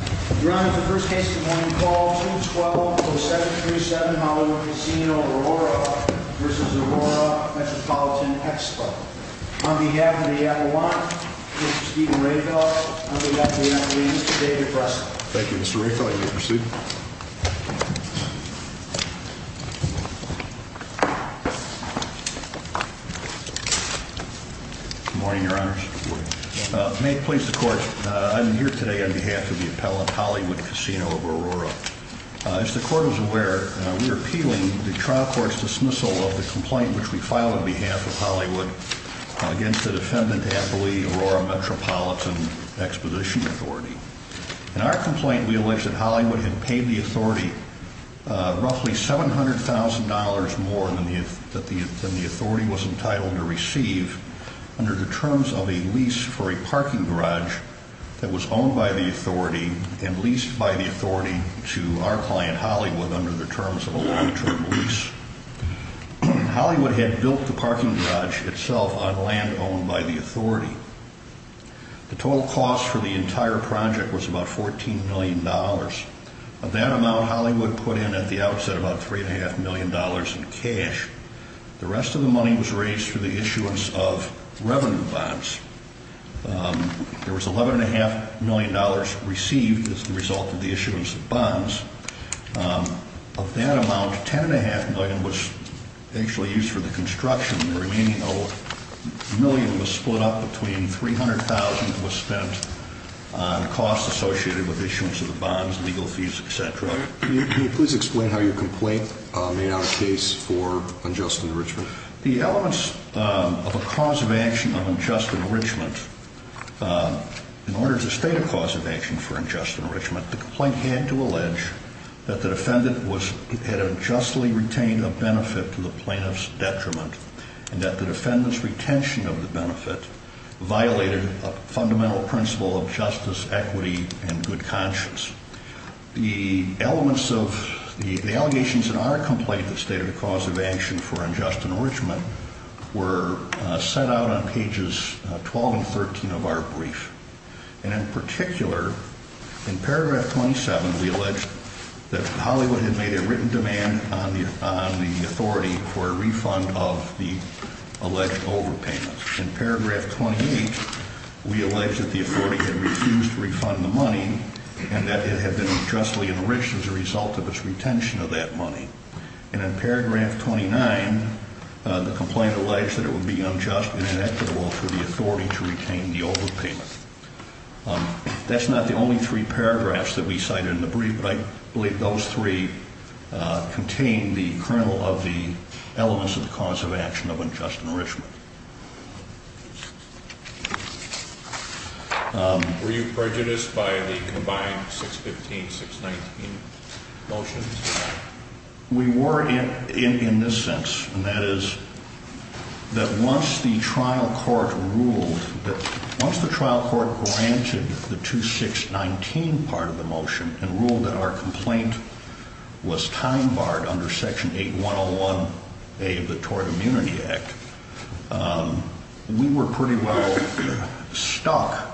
on behalf of the Avalanche, Mr. Stephen Rehfeldt, and we have the attorney, Mr. David Preston. Thank you, Mr. Rehfeldt. You may proceed. Good morning, Your Honors. May it please the Court, I'm here today on behalf of the appellant, Hollywood Casino-Aurora. As the Court is aware, we are appealing the trial court's dismissal of the complaint which we filed on behalf of Hollywood against the defendant, Aurora Metropolitan Exposition Authority. In our complaint, we allege that Hollywood had paid the authority roughly $700,000 more than the authority was entitled to receive under the terms of a lease for a parking garage that was owned by the authority and leased by the authority to our client, Hollywood, under the terms of a long-term lease. Hollywood had built the parking garage itself on land owned by the authority. The total cost for the entire project was about $14 million. Of that amount, Hollywood put in at the outset about $3.5 million in cash. The rest of the money was raised through the issuance of revenue bonds. There was $11.5 million received as the result of the issuance of bonds. Of that amount, $10.5 million was actually used for the construction. The remaining $1 million was split up between $300,000 was spent on costs associated with issuance of the bonds, legal fees, etc. Can you please explain how your complaint made on a case for unjust enrichment? The elements of a cause of action of unjust enrichment, in order to state a cause of action for unjust enrichment, the complaint had to allege that the defendant had unjustly retained a benefit to the plaintiff's detriment and that the defendant's retention of the benefit violated a fundamental principle of justice, equity, and good conscience. The allegations in our complaint that stated a cause of action for unjust enrichment were set out on pages 12 and 13 of our brief. In particular, in paragraph 27, we allege that Hollywood had made a written demand on the authority for a refund of the alleged overpayment. In paragraph 28, we allege that the authority had refused to refund the money and that it had been unjustly enriched as a result of its retention of that money. And in paragraph 29, the complaint alleged that it would be unjust and inequitable for the authority to retain the overpayment. That's not the only three paragraphs that we cited in the brief, but I believe those three contain the kernel of the elements of the cause of action of unjust enrichment. Were you prejudiced by the combined 615, 619 motions? We were in this sense, and that is that once the trial court ruled, once the trial court granted the 2619 part of the motion and ruled that our complaint was time barred under Section 8101A of the Tort Immunity Act, we were pretty well stuck,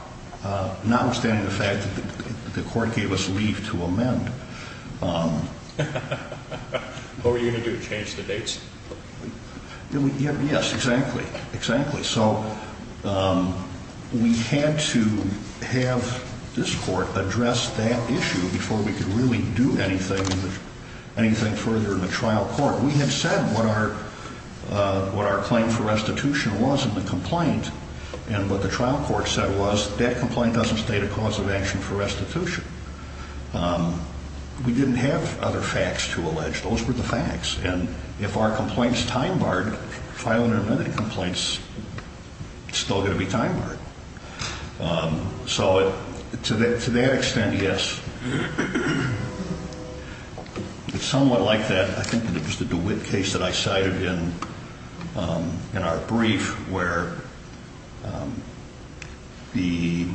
notwithstanding the fact that the court gave us leave to amend. What were you going to do, change the dates? Yes, exactly. So we had to have this court address that issue before we could really do anything further in the trial court. We had said what our claim for restitution was in the complaint, and what the trial court said was that complaint doesn't state a cause of action for restitution. We didn't have other facts to allege. Those were the facts, and if our complaint's time barred, if I went and amended the complaints, it's still going to be time barred. So to that extent, yes. It's somewhat like that, I think, in the DeWitt case that I cited in our brief, where the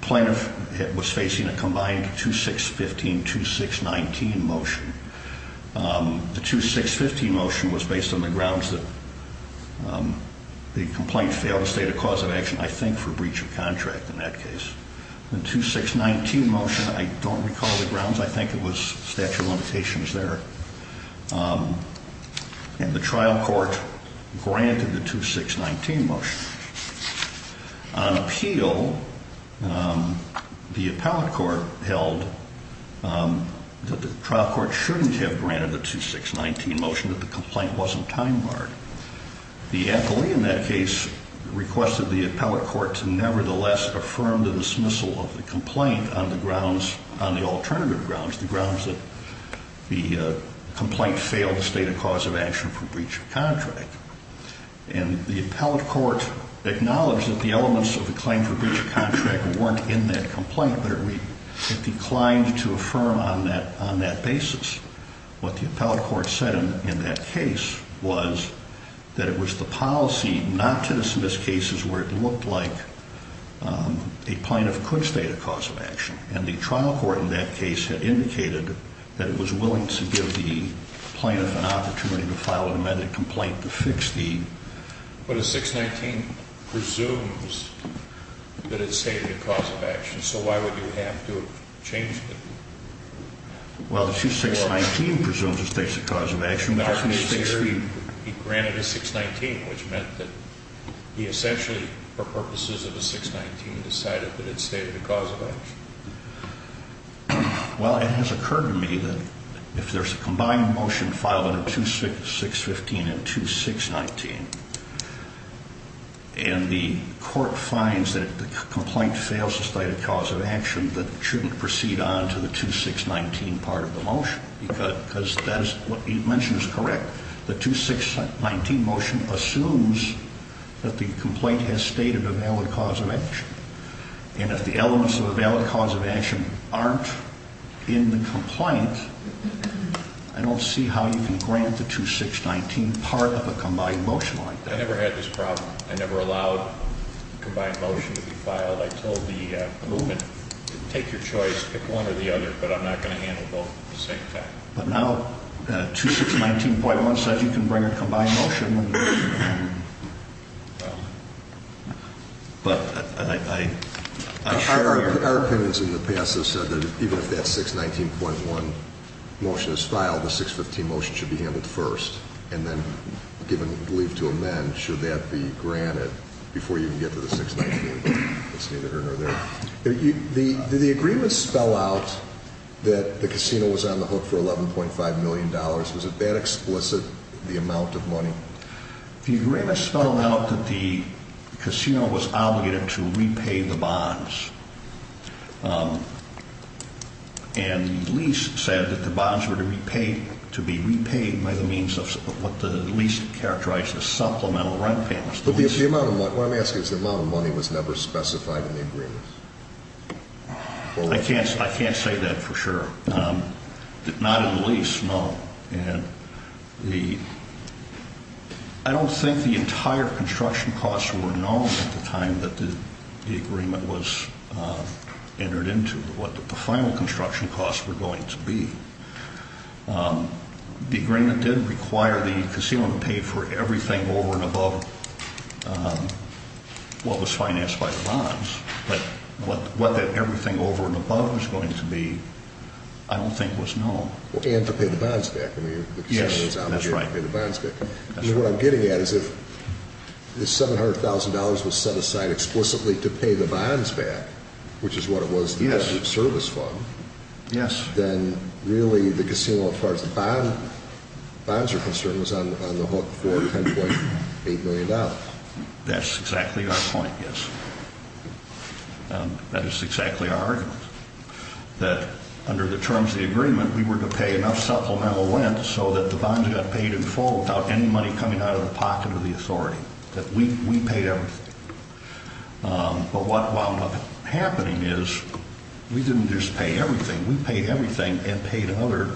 plaintiff was facing a combined 2615-2619 motion. The 2615 motion was based on the grounds that the complaint failed to state a cause of action, I think, for breach of contract in that case. The 2619 motion, I don't recall the grounds. I think it was statute of limitations there. And the trial court granted the 2619 motion. On appeal, the appellate court held that the trial court shouldn't have granted the 2619 motion, that the complaint wasn't time barred. The appellee in that case requested the appellate court to nevertheless affirm the dismissal of the complaint on the alternative grounds, the grounds that the complaint failed to state a cause of action for breach of contract. And the appellate court acknowledged that the elements of the claim for breach of contract weren't in that complaint, but it declined to affirm on that basis. What the appellate court said in that case was that it was the policy not to dismiss cases where it looked like a plaintiff could state a cause of action, and the trial court in that case had indicated that it was willing to give the plaintiff an opportunity to file an amended complaint to fix the... But a 619 presumes that it stated a cause of action, so why would you have to have changed it? Well, the 2619 presumes it states a cause of action. He granted a 619, which meant that he essentially, for purposes of a 619, decided that it stated a cause of action. Well, it has occurred to me that if there's a combined motion filed in a 2615 and 2619, and the court finds that the complaint fails to state a cause of action, that it shouldn't proceed on to the 2619 part of the motion because that is what you mentioned is correct. The 2619 motion assumes that the complaint has stated a valid cause of action, and if the elements of a valid cause of action aren't in the complaint, I don't see how you can grant the 2619 part of a combined motion like that. I never had this problem. I never allowed a combined motion to be filed. I told the movement, take your choice, pick one or the other, but I'm not going to handle both at the same time. But now 2619.1 says you can bring a combined motion. Well, our opinions in the past have said that even if that 619.1 motion is filed, the 615 motion should be handled first and then given leave to amend should that be granted before you can get to the 619.1. Did the agreement spell out that the casino was on the hook for $11.5 million? Was it that explicit, the amount of money? The agreement spelled out that the casino was obligated to repay the bonds, and the lease said that the bonds were to be repaid by the means of what the lease characterized as supplemental rent payments. What I'm asking is the amount of money was never specified in the agreement? I can't say that for sure. Not in the lease, no. I don't think the entire construction costs were known at the time that the agreement was entered into, what the final construction costs were going to be. The agreement did require the casino to pay for everything over and above what was financed by the bonds, but what that everything over and above was going to be I don't think was known. And to pay the bonds back. Yes, that's right. What I'm getting at is if the $700,000 was set aside explicitly to pay the bonds back, which is what it was in the service fund, then really the casino, as far as the bonds are concerned, was on the hook for $10.8 million. That's exactly our point, yes. That is exactly our argument. That under the terms of the agreement, we were to pay enough supplemental rent so that the bonds got paid in full without any money coming out of the pocket of the authority. That we paid everything. But what wound up happening is we didn't just pay everything. We paid everything and paid another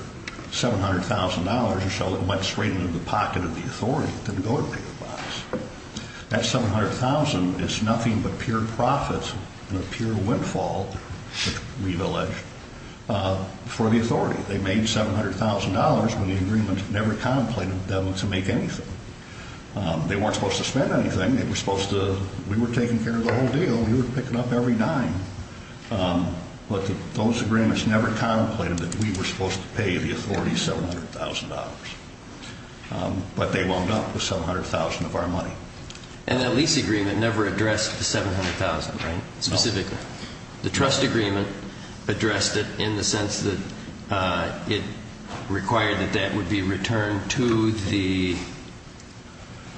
$700,000 or so that went straight into the pocket of the authority to go to pay the bonds. That $700,000 is nothing but pure profit and a pure windfall, which we've alleged, for the authority. They made $700,000 when the agreement never contemplated them to make anything. They weren't supposed to spend anything. We were taking care of the whole deal. We were picking up every dime. But those agreements never contemplated that we were supposed to pay the authority $700,000. But they wound up with $700,000 of our money. And that lease agreement never addressed the $700,000, right? No. Specifically. The trust agreement addressed it in the sense that it required that that would be returned to the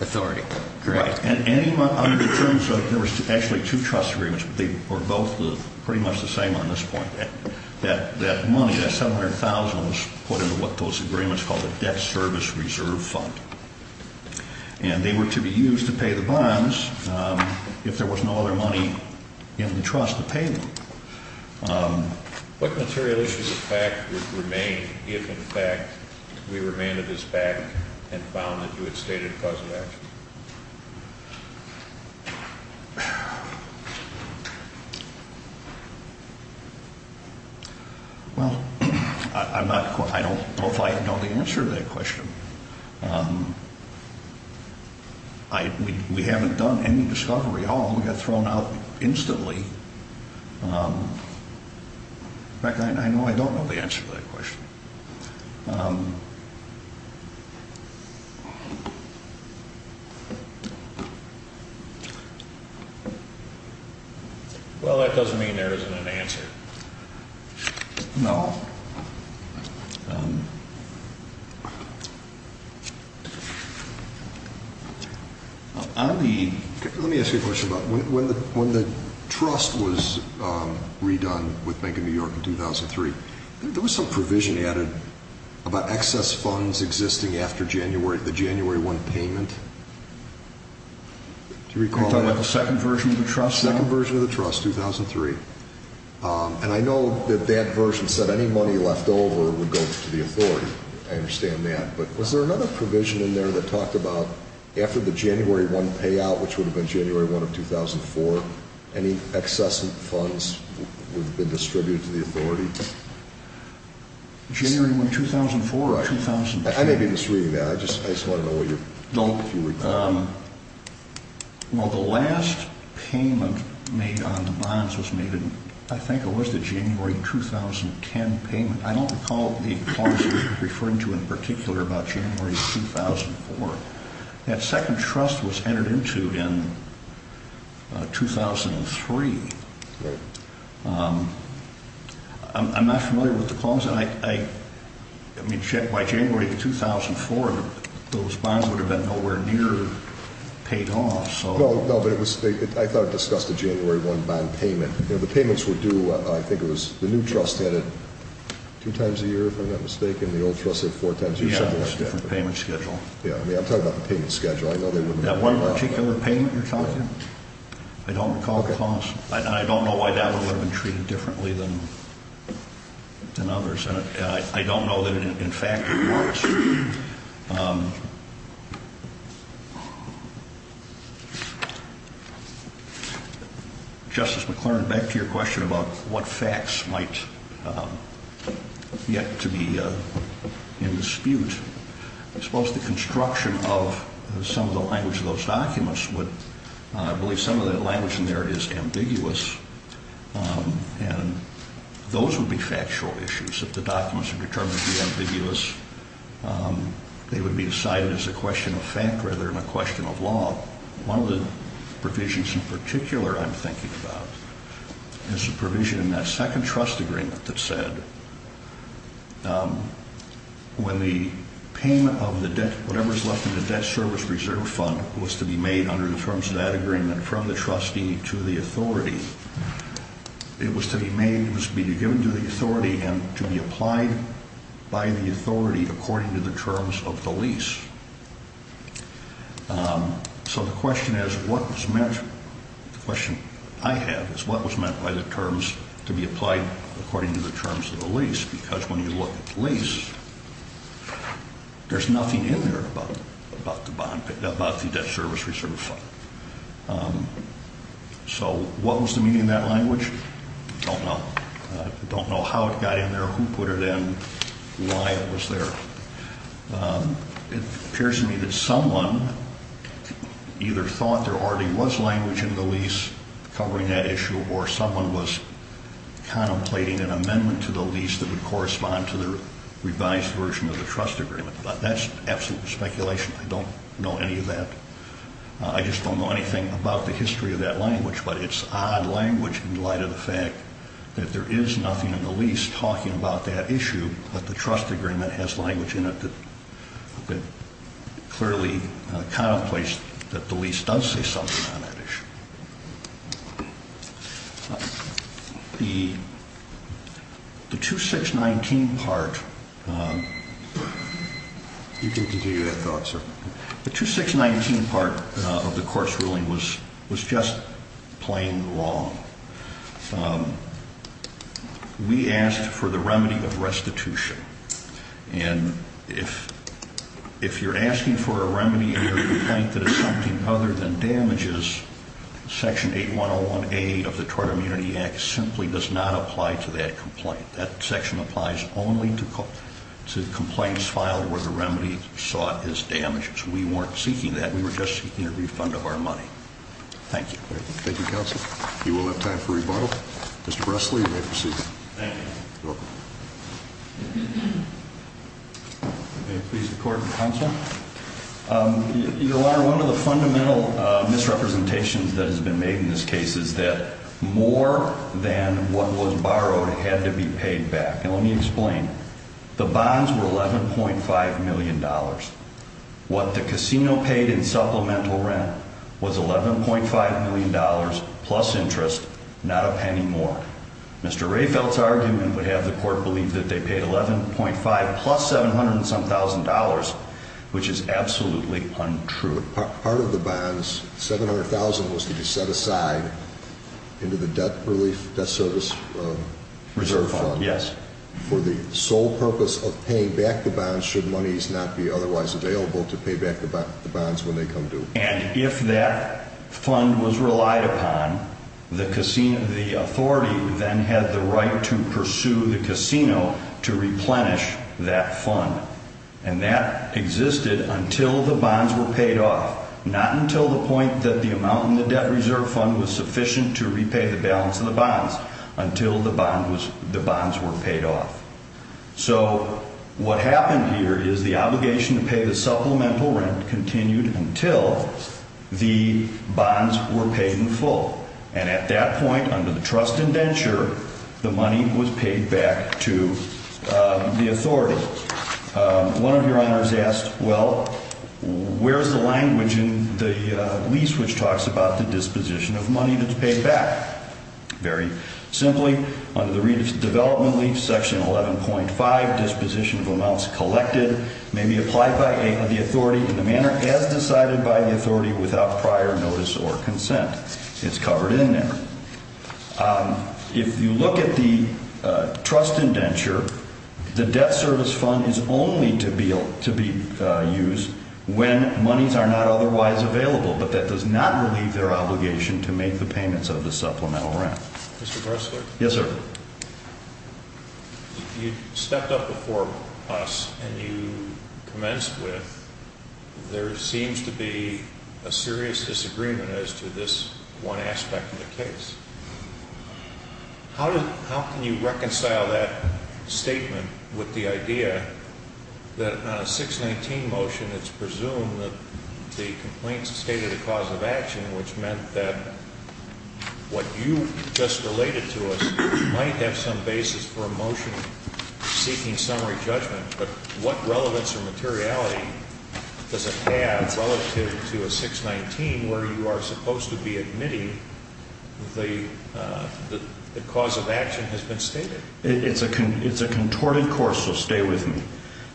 authority, correct? Right. Under the terms of it, there were actually two trust agreements, but they were both pretty much the same on this point. That money, that $700,000, was put into what those agreements called the Debt Service Reserve Fund. And they were to be used to pay the bonds if there was no other money in the trust to pay them. What material issues of fact would remain if, in fact, we remained to this fact and found that you had stated a cause of action? Well, I don't know if I know the answer to that question. We haven't done any discovery at all. We got thrown out instantly. In fact, I know I don't know the answer to that question. Well, that doesn't mean there isn't an answer. No. Let me ask you a question about when the trust was redone with Bank of New York in 2003, there was some provision added about excess funds existing after the January 1 payment. Do you recall that? You're talking about the second version of the trust? The second version of the trust, 2003. And I know that that version said any money left over would go to the authority. I understand that. But was there another provision in there that talked about after the January 1 payout, which would have been January 1 of 2004, any excess funds would have been distributed to the authority? January 1, 2004 or 2002? I may be misreading that. I just want to know if you recall. Well, the last payment made on the bonds was made in, I think it was the January 2010 payment. I don't recall the clause you're referring to in particular about January 2004. That second trust was entered into in 2003. By January 2004, those bonds would have been nowhere near paid off. No, but I thought it discussed the January 1 bond payment. The payments were due, I think it was the new trust had it two times a year, if I'm not mistaken, and the old trust had it four times a year. Yeah, it was a different payment schedule. Yeah, I'm talking about the payment schedule. That one particular payment you're talking about? I don't recall the clause. I don't know why that one would have been treated differently than others, and I don't know that it, in fact, was. Justice McClernand, back to your question about what facts might yet to be in dispute. I suppose the construction of some of the language in those documents would, I believe some of that language in there is ambiguous, and those would be factual issues. If the documents are determined to be ambiguous, they would be decided as a question of fact rather than a question of law. One of the provisions in particular I'm thinking about is the provision in that second trust agreement that said when the payment of the debt, whatever is left in the debt service reserve fund was to be made under the terms of that agreement from the trustee to the authority, it was to be made, it was to be given to the authority and to be applied by the authority according to the terms of the lease. So the question is what was meant, the question I have is what was meant by the terms to be applied according to the terms of the lease, because when you look at the lease, there's nothing in there about the bond, about the debt service reserve fund. So what was the meaning of that language? I don't know. I don't know how it got in there, who put it in, why it was there. It appears to me that someone either thought there already was language in the lease covering that issue or someone was contemplating an amendment to the lease that would correspond to the revised version of the trust agreement, but that's absolute speculation. I don't know any of that. I just don't know anything about the history of that language, but it's odd language in light of the fact that there is nothing in the lease talking about that issue, but the trust agreement has language in it that clearly contemplates that the lease does say something on that issue. The 2619 part of the court's ruling was just plain wrong. We asked for the remedy of restitution, and if you're asking for a remedy in your complaint that is something other than damages, Section 8101A of the Tort Immunity Act simply does not apply to that complaint. That section applies only to complaints filed where the remedy is sought as damages. We weren't seeking that. We were just seeking a refund of our money. Thank you. Thank you, counsel. You will have time for rebuttal. Mr. Bressley, you may proceed. Thank you. You're welcome. May it please the court and counsel. Your Honor, one of the fundamental misrepresentations that has been made in this case is that more than what was borrowed had to be paid back, and let me explain. The bonds were $11.5 million. What the casino paid in supplemental rent was $11.5 million plus interest, not a penny more. Mr. Rehfeldt's argument would have the court believe that they paid $11.5 plus $700 and some thousand dollars, which is absolutely untrue. Part of the bonds, $700,000, was to be set aside into the debt relief, debt service reserve fund. Yes. For the sole purpose of paying back the bonds should monies not be otherwise available to pay back the bonds when they come due. And if that fund was relied upon, the authority then had the right to pursue the casino to replenish that fund. And that existed until the bonds were paid off, not until the point that the amount in the debt reserve fund was sufficient to repay the balance of the bonds, until the bonds were paid off. So what happened here is the obligation to pay the supplemental rent continued until the bonds were paid in full. And at that point, under the trust indenture, the money was paid back to the authority. One of your honors asked, well, where's the language in the lease which talks about the disposition of money that's paid back? Very simply, under the redevelopment lease, Section 11.5, disposition of amounts collected may be applied by the authority in the manner as decided by the authority without prior notice or consent. It's covered in there. If you look at the trust indenture, the debt service fund is only to be used when monies are not otherwise available, but that does not relieve their obligation to make the payments of the supplemental rent. Mr. Gressler? Yes, sir. You stepped up before us and you commenced with there seems to be a serious disagreement as to this one aspect of the case. How can you reconcile that statement with the idea that on a 619 motion, it's presumed that the complaints stated a cause of action, which meant that what you just related to us might have some basis for a motion seeking summary judgment, but what relevance or materiality does it have relative to a 619 where you are supposed to be admitting the cause of action has been stated? It's a contorted course, so stay with me.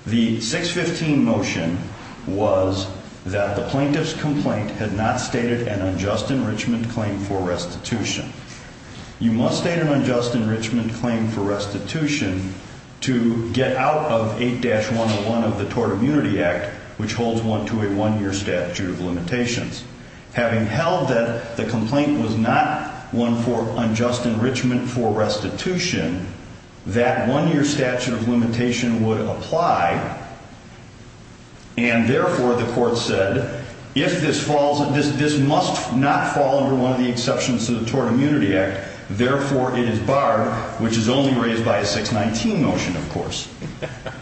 The 615 motion was that the plaintiff's complaint had not stated an unjust enrichment claim for restitution. You must state an unjust enrichment claim for restitution to get out of 8-101 of the Tort Immunity Act, which holds one to a one-year statute of limitations. Having held that the complaint was not one for unjust enrichment for restitution, that one-year statute of limitation would apply, and therefore the court said this must not fall under one of the exceptions to the Tort Immunity Act, therefore it is barred, which is only raised by a 619 motion, of course.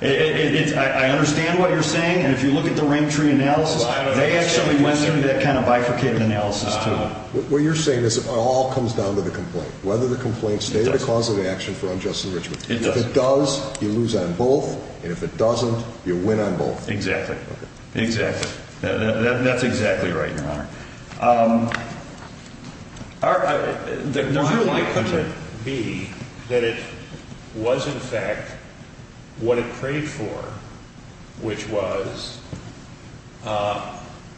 I understand what you're saying, and if you look at the rank tree analysis, they actually went through that kind of bifurcated analysis, too. What you're saying is it all comes down to the complaint, whether the complaint stated a cause of action for unjust enrichment. If it does, you lose on both, and if it doesn't, you win on both. Exactly. Okay. Exactly. That's exactly right, Your Honor. The timeline could be that it was, in fact, what it prayed for, which was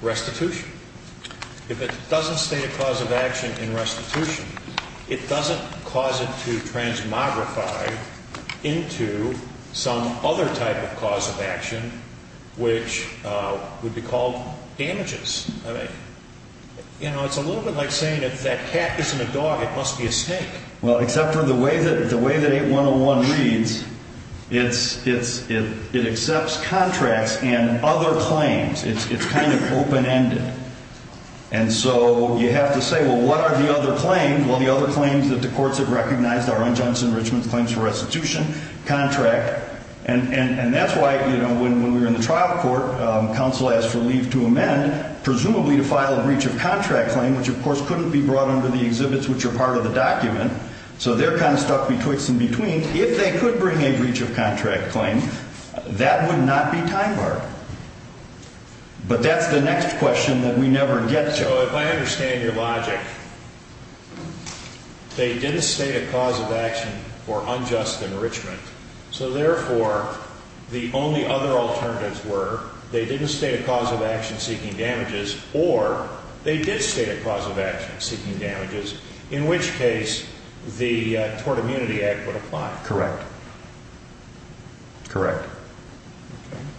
restitution. If it doesn't state a cause of action in restitution, it doesn't cause it to transmogrify into some other type of cause of action, which would be called damages. I mean, you know, it's a little bit like saying if that cat isn't a dog, it must be a snake. Well, except for the way that 8101 reads, it accepts contracts and other claims. It's kind of open-ended. And so you have to say, well, what are the other claims? Well, the other claims that the courts have recognized are unjust enrichment claims for restitution, contract, and that's why, you know, when we were in the trial court, counsel asked for leave to amend, presumably to file a breach of contract claim, which, of course, couldn't be brought under the exhibits which are part of the document. So they're kind of stuck betwixt and between. If they could bring a breach of contract claim, that would not be time-barred. But that's the next question that we never get to. So if I understand your logic, they didn't state a cause of action for unjust enrichment, so therefore the only other alternatives were they didn't state a cause of action seeking damages or they did state a cause of action seeking damages, in which case the Tort Immunity Act would apply. Correct. Correct.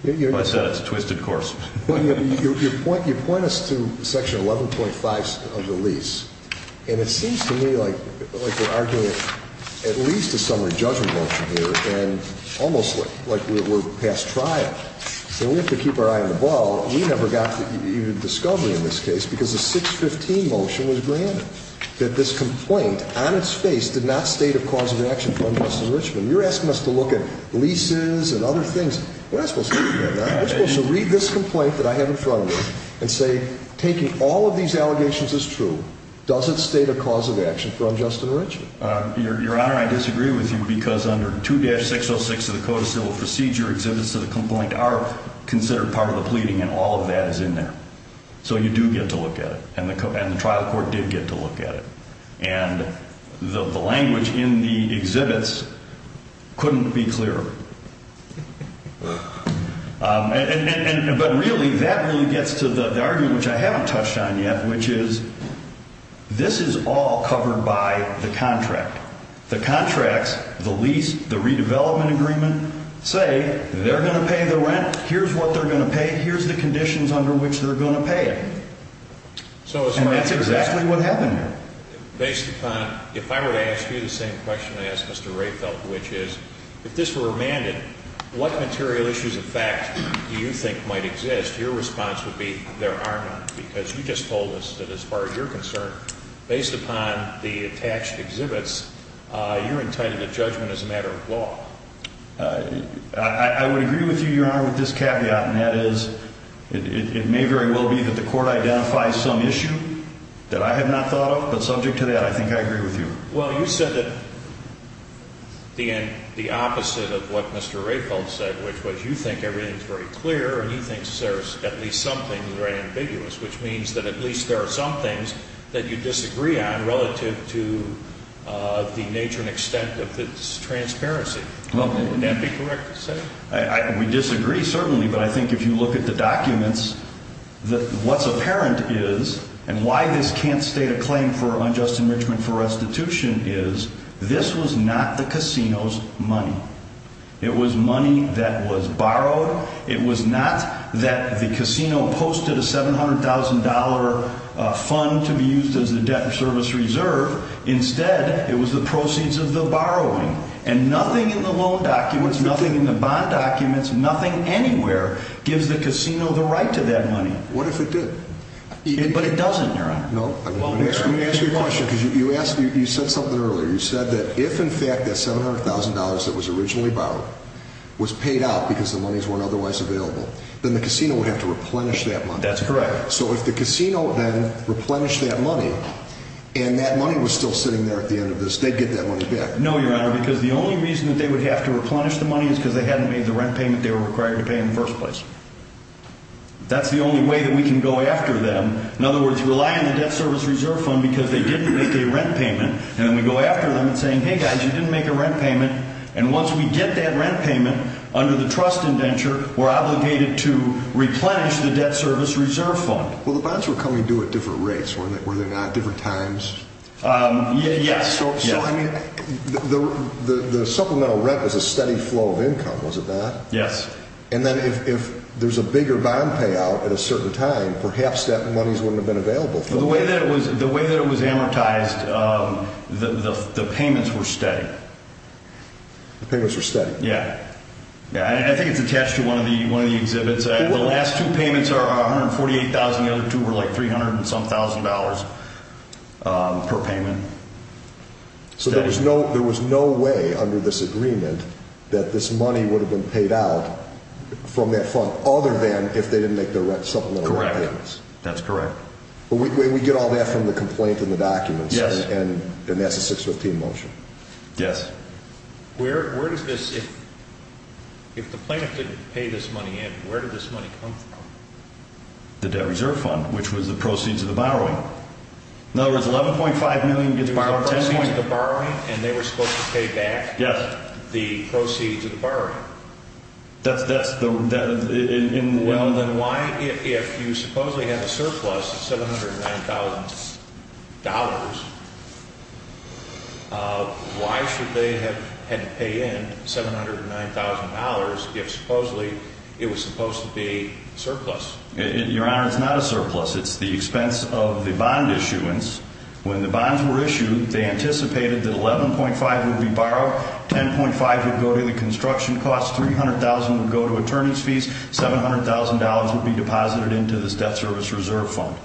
I said it's a twisted course. You point us to Section 11.5 of the lease, and it seems to me like we're arguing at least a summary judgment motion here and almost like we're past trial, so we have to keep our eye on the ball. We never got the discovery in this case because the 615 motion was granted, that this complaint on its face did not state a cause of action for unjust enrichment. You're asking us to look at leases and other things. We're not supposed to look at that. We're supposed to read this complaint that I have in front of me and say, taking all of these allegations as true, does it state a cause of action for unjust enrichment? Your Honor, I disagree with you because under 2-606 of the Code of Civil Procedure, exhibits to the complaint are considered part of the pleading, and all of that is in there. So you do get to look at it, and the trial court did get to look at it. And the language in the exhibits couldn't be clearer. But really, that really gets to the argument, which I haven't touched on yet, which is this is all covered by the contract. The contracts, the lease, the redevelopment agreement say they're going to pay the rent. Here's what they're going to pay. Here's the conditions under which they're going to pay it. And that's exactly what happened here. Based upon, if I were to ask you the same question I asked Mr. Rayfeld, which is if this were remanded, what material issues of fact do you think might exist? Your response would be there are none because you just told us that as far as you're concerned, based upon the attached exhibits, you're entitled to judgment as a matter of law. I would agree with you, Your Honor, with this caveat, and that is it may very well be that the court identifies some issue that I have not thought of. But subject to that, I think I agree with you. Well, you said the opposite of what Mr. Rayfeld said, which was you think everything is very clear, and you think there's at least something very ambiguous, which means that at least there are some things that you disagree on relative to the nature and extent of this transparency. Would that be correct to say? We disagree, certainly, but I think if you look at the documents, what's apparent is, and why this can't state a claim for unjust enrichment for restitution is, this was not the casino's money. It was money that was borrowed. It was not that the casino posted a $700,000 fund to be used as a debt service reserve. Instead, it was the proceeds of the borrowing. And nothing in the loan documents, nothing in the bond documents, nothing anywhere gives the casino the right to that money. What if it did? But it doesn't, Your Honor. Let me ask you a question, because you said something earlier. You said that if, in fact, that $700,000 that was originally borrowed was paid out because the monies weren't otherwise available, then the casino would have to replenish that money. That's correct. So if the casino then replenished that money, and that money was still sitting there at the end of this, they'd get that money back. No, Your Honor, because the only reason that they would have to replenish the money is because they hadn't made the rent payment they were required to pay in the first place. That's the only way that we can go after them. In other words, rely on the debt service reserve fund because they didn't make a rent payment. And then we go after them and say, hey, guys, you didn't make a rent payment. And once we get that rent payment under the trust indenture, we're obligated to replenish the debt service reserve fund. Well, the bonds were coming due at different rates, were they not, different times? Yes. So, I mean, the supplemental rent was a steady flow of income, was it not? Yes. And then if there's a bigger bond payout at a certain time, perhaps that money wouldn't have been available. The way that it was amortized, the payments were steady. The payments were steady. Yes. I think it's attached to one of the exhibits. The last two payments are $148,000. The other two were like $300,000-some-thousand per payment. So there was no way under this agreement that this money would have been paid out from that fund other than if they didn't make their supplemental rent payments. Correct. That's correct. We get all that from the complaint and the documents. Yes. And that's a 615 motion. Yes. Where does this, if the plaintiff didn't pay this money in, where did this money come from? The debt reserve fund, which was the proceeds of the borrowing. In other words, $11.5 million gets borrowed. The proceeds of the borrowing, and they were supposed to pay back the proceeds of the borrowing. Yes. That's in the loan. Well, then why, if you supposedly have a surplus of $709,000, why should they have had to pay in $709,000 if supposedly it was supposed to be a surplus? Your Honor, it's not a surplus. It's the expense of the bond issuance. When the bonds were issued, they anticipated that $11.5 would be borrowed, $10.5 would go to the construction costs, $300,000 would go to attorneys' fees, $700,000 would be deposited into this debt service reserve fund.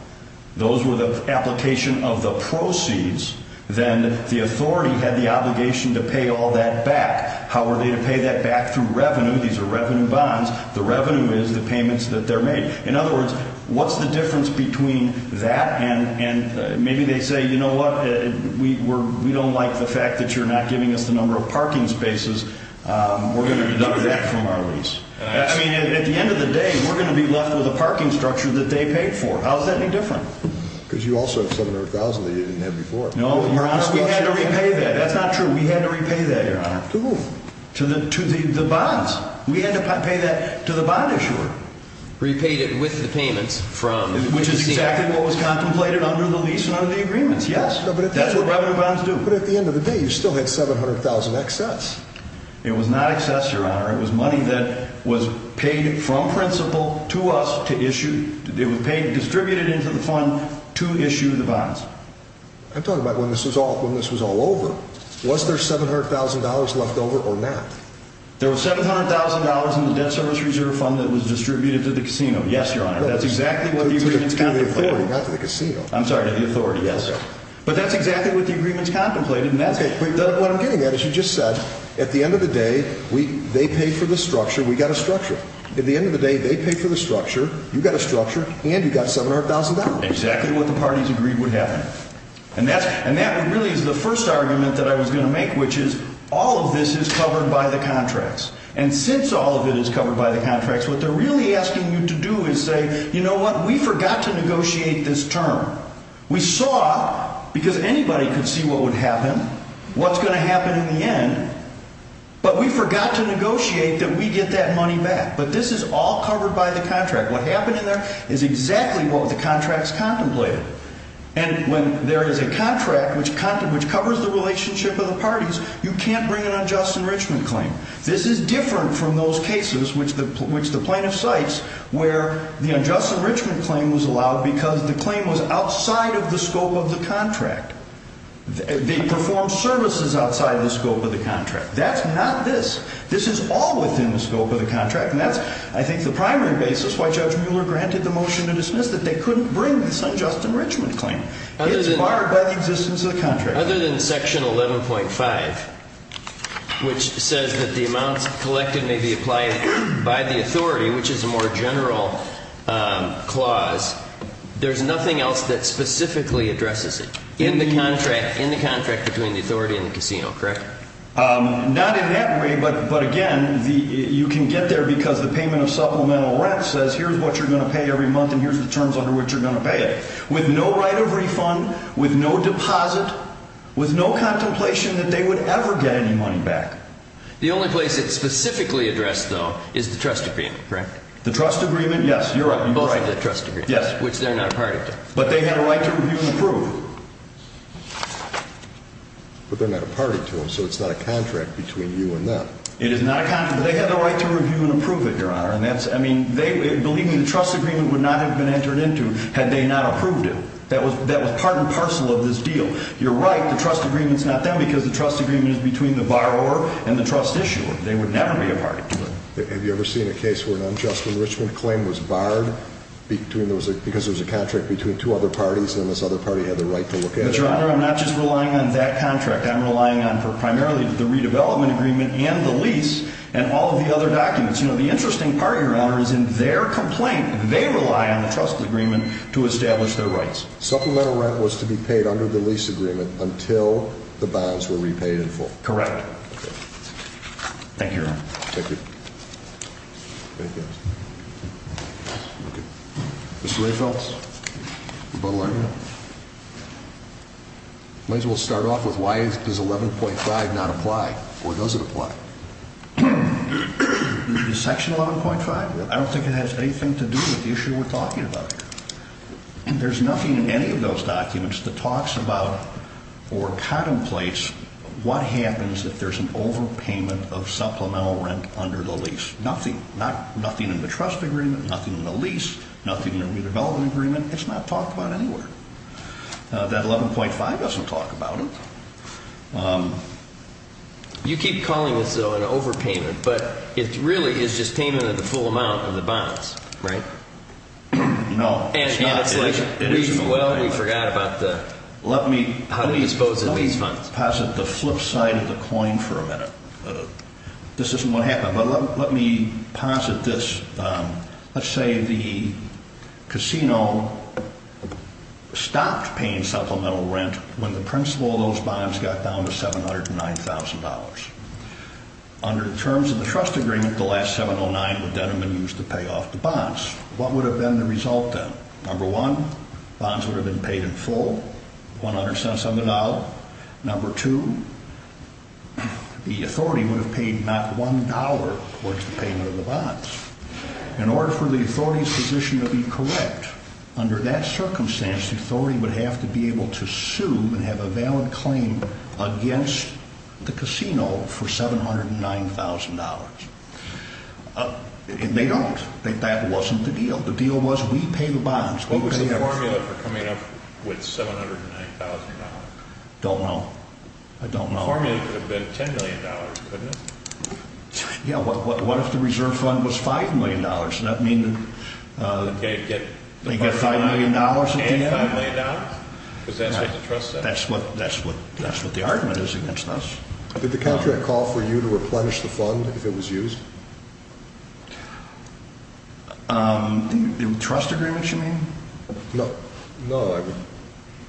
Those were the application of the proceeds. Then the authority had the obligation to pay all that back. How were they to pay that back? Through revenue. These are revenue bonds. The revenue is the payments that they're made. In other words, what's the difference between that and maybe they say, you know what, we don't like the fact that you're not giving us the number of parking spaces. We're going to deduct that from our lease. I mean, at the end of the day, we're going to be left with a parking structure that they paid for. How is that any different? Because you also have $700,000 that you didn't have before. No, Your Honor, we had to repay that. That's not true. We had to repay that, Your Honor. To whom? To the bonds. We had to pay that to the bond issuer. Repaid it with the payments from the agency. Which is exactly what was contemplated under the lease and under the agreements, yes. That's what revenue bonds do. But at the end of the day, you still had $700,000 excess. It was not excess, Your Honor. It was money that was paid from principal to us to issue. It was paid and distributed into the fund to issue the bonds. I'm talking about when this was all over. Was there $700,000 left over or not? There was $700,000 in the debt service reserve fund that was distributed to the casino, yes, Your Honor. That's exactly what the agreements contemplated. To the authority. Not to the casino. I'm sorry, to the authority, yes. But that's exactly what the agreements contemplated. What I'm getting at is you just said, at the end of the day, they paid for the structure, we got a structure. At the end of the day, they paid for the structure, you got a structure, and you got $700,000. Exactly what the parties agreed would happen. And that really is the first argument that I was going to make, which is all of this is covered by the contracts. And since all of it is covered by the contracts, what they're really asking you to do is say, you know what, we forgot to negotiate this term. We saw, because anybody could see what would happen, what's going to happen in the end, but we forgot to negotiate that we get that money back. But this is all covered by the contract. What happened in there is exactly what the contracts contemplated. And when there is a contract which covers the relationship of the parties, you can't bring an unjust enrichment claim. This is different from those cases which the plaintiff cites where the unjust enrichment claim was allowed because the claim was outside of the scope of the contract. They performed services outside the scope of the contract. That's not this. This is all within the scope of the contract. And that's, I think, the primary basis why Judge Mueller granted the motion to dismiss that they couldn't bring this unjust enrichment claim. It's barred by the existence of the contract. Other than Section 11.5, which says that the amounts collected may be applied by the authority, which is a more general clause, there's nothing else that specifically addresses it in the contract between the authority and the casino, correct? Not in that way, but again, you can get there because the payment of supplemental rent says here's what you're going to pay every month and here's the terms under which you're going to pay it. With no right of refund, with no deposit, with no contemplation that they would ever get any money back. The only place it's specifically addressed, though, is the trust agreement, correct? The trust agreement, yes. You're right. Both of the trust agreements. Yes. Which they're not a party to. But they have a right to review and approve. But they're not a party to them, so it's not a contract between you and them. It is not a contract. They have the right to review and approve it, Your Honor. And that's, I mean, they, believe me, the trust agreement would not have been entered into had they not approved it. That was part and parcel of this deal. You're right, the trust agreement's not them because the trust agreement is between the borrower and the trust issuer. They would never be a party to them. Have you ever seen a case where an unjust enrichment claim was barred because there was a contract between two other parties and this other party had the right to look at it? But, Your Honor, I'm not just relying on that contract. I'm relying on primarily the redevelopment agreement and the lease and all of the other documents. You know, the interesting part, Your Honor, is in their complaint, they rely on the trust agreement to establish their rights. Supplemental rent was to be paid under the lease agreement until the bonds were repaid in full. Correct. Okay. Thank you, Your Honor. Thank you. Thank you. Okay. Mr. Rehfeldt, rebuttal argument. Might as well start off with why does 11.5 not apply, or does it apply? Section 11.5, I don't think it has anything to do with the issue we're talking about. And there's nothing in any of those documents that talks about or contemplates what happens if there's an overpayment of supplemental rent under the lease. Nothing. Nothing in the trust agreement, nothing in the lease, nothing in the redevelopment agreement. It's not talked about anywhere. That 11.5 doesn't talk about it. You keep calling this, though, an overpayment, but it really is just payment of the full amount of the bonds, right? No, it's not. Well, we forgot about how to dispose of these funds. Let me posit the flip side of the coin for a minute. This isn't what happened, but let me posit this. Let's say the casino stopped paying supplemental rent when the principal of those bonds got down to $709,000. Under the terms of the trust agreement, the last $709,000 would then have been used to pay off the bonds. What would have been the result then? Number one, bonds would have been paid in full, 100 cents on the dollar. Number two, the authority would have paid not $1 towards the payment of the bonds. In order for the authority's position to be correct, under that circumstance, the authority would have to be able to sue and have a valid claim against the casino for $709,000. They don't. That wasn't the deal. The deal was we pay the bonds. What was the formula for coming up with $709,000? Don't know. I don't know. The formula could have been $10 million, couldn't it? Yeah, what if the reserve fund was $5 million? Does that mean they get $5 million at the end? $5 million? That's what the argument is against us. Did the contract call for you to replenish the fund if it was used? The trust agreement, you mean? No. No.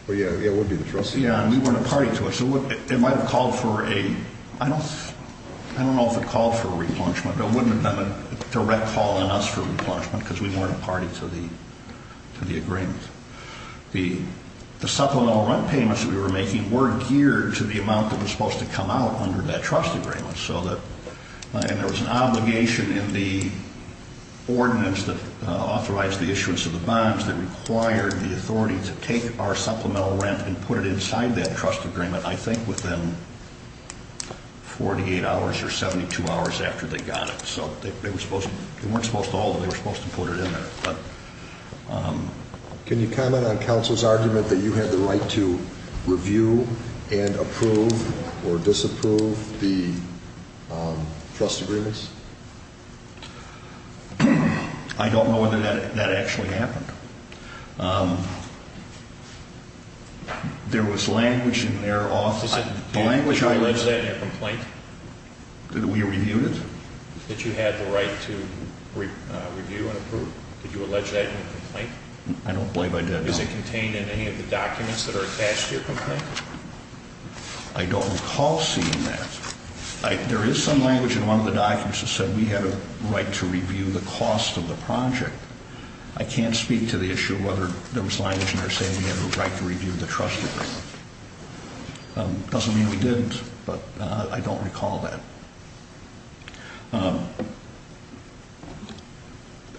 Yeah, it would be the trust agreement. Yeah, and we weren't a party to it. It might have called for a, I don't know if it called for a replenishment, but it wouldn't have been a direct call on us for replenishment because we weren't a party to the agreement. The supplemental rent payments that we were making were geared to the amount that was supposed to come out under that trust agreement. And there was an obligation in the ordinance that authorized the issuance of the bonds that required the authority to take our supplemental rent and put it inside that trust agreement, I think within 48 hours or 72 hours after they got it. So they weren't supposed to hold it, they were supposed to put it in there. Can you comment on counsel's argument that you had the right to review and approve or disapprove the trust agreements? I don't know whether that actually happened. There was language in their office. Did you mention that in your complaint? That we reviewed it? That you had the right to review and approve? Did you allege that in your complaint? I don't believe I did, no. Is it contained in any of the documents that are attached to your complaint? I don't recall seeing that. There is some language in one of the documents that said we had a right to review the cost of the project. I can't speak to the issue of whether there was language in there saying we had a right to review the trust agreement. Doesn't mean we didn't, but I don't recall that.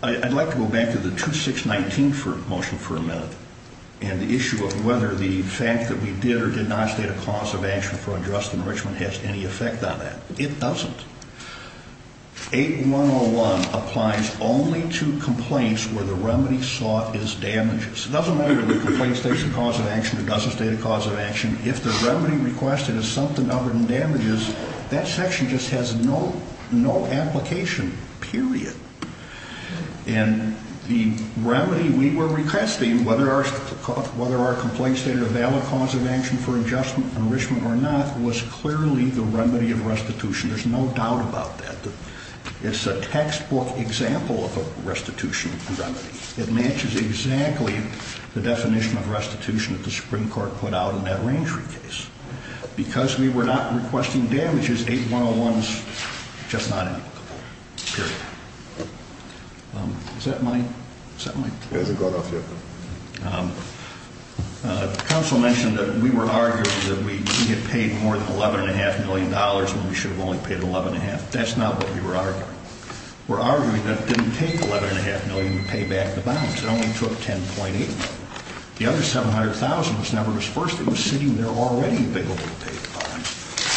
I'd like to go back to the 2619 motion for a minute. And the issue of whether the fact that we did or did not state a cause of action for a trust enrichment has any effect on that. It doesn't. 8101 applies only to complaints where the remedy sought is damages. It doesn't matter whether the complaint states a cause of action or doesn't state a cause of action. If the remedy requested is something other than damages, that section just has no application, period. And the remedy we were requesting, whether our complaint stated a valid cause of action for adjustment enrichment or not, was clearly the remedy of restitution. There's no doubt about that. It's a textbook example of a restitution remedy. It matches exactly the definition of restitution that the Supreme Court put out in that rangery case. Because we were not requesting damages, 8101 is just not applicable, period. Is that my? Is that my? It hasn't gone off yet. Counsel mentioned that we were arguing that we had paid more than $11.5 million when we should have only paid $11.5. That's not what we were arguing. We're arguing that it didn't take $11.5 million to pay back the bonds. It only took $10.8 million. The other $700,000 was never disbursed. It was sitting there already available to pay the bonds.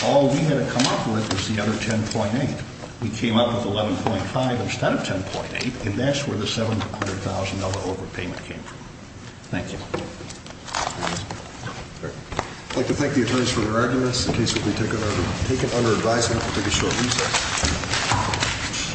All we had to come up with was the other $10.8. We came up with $11.5 instead of $10.8, and that's where the $700,000 overpayment came from. Thank you. I'd like to thank the attorneys for their arguments. The case will be taken under advisement. We'll take a short recess.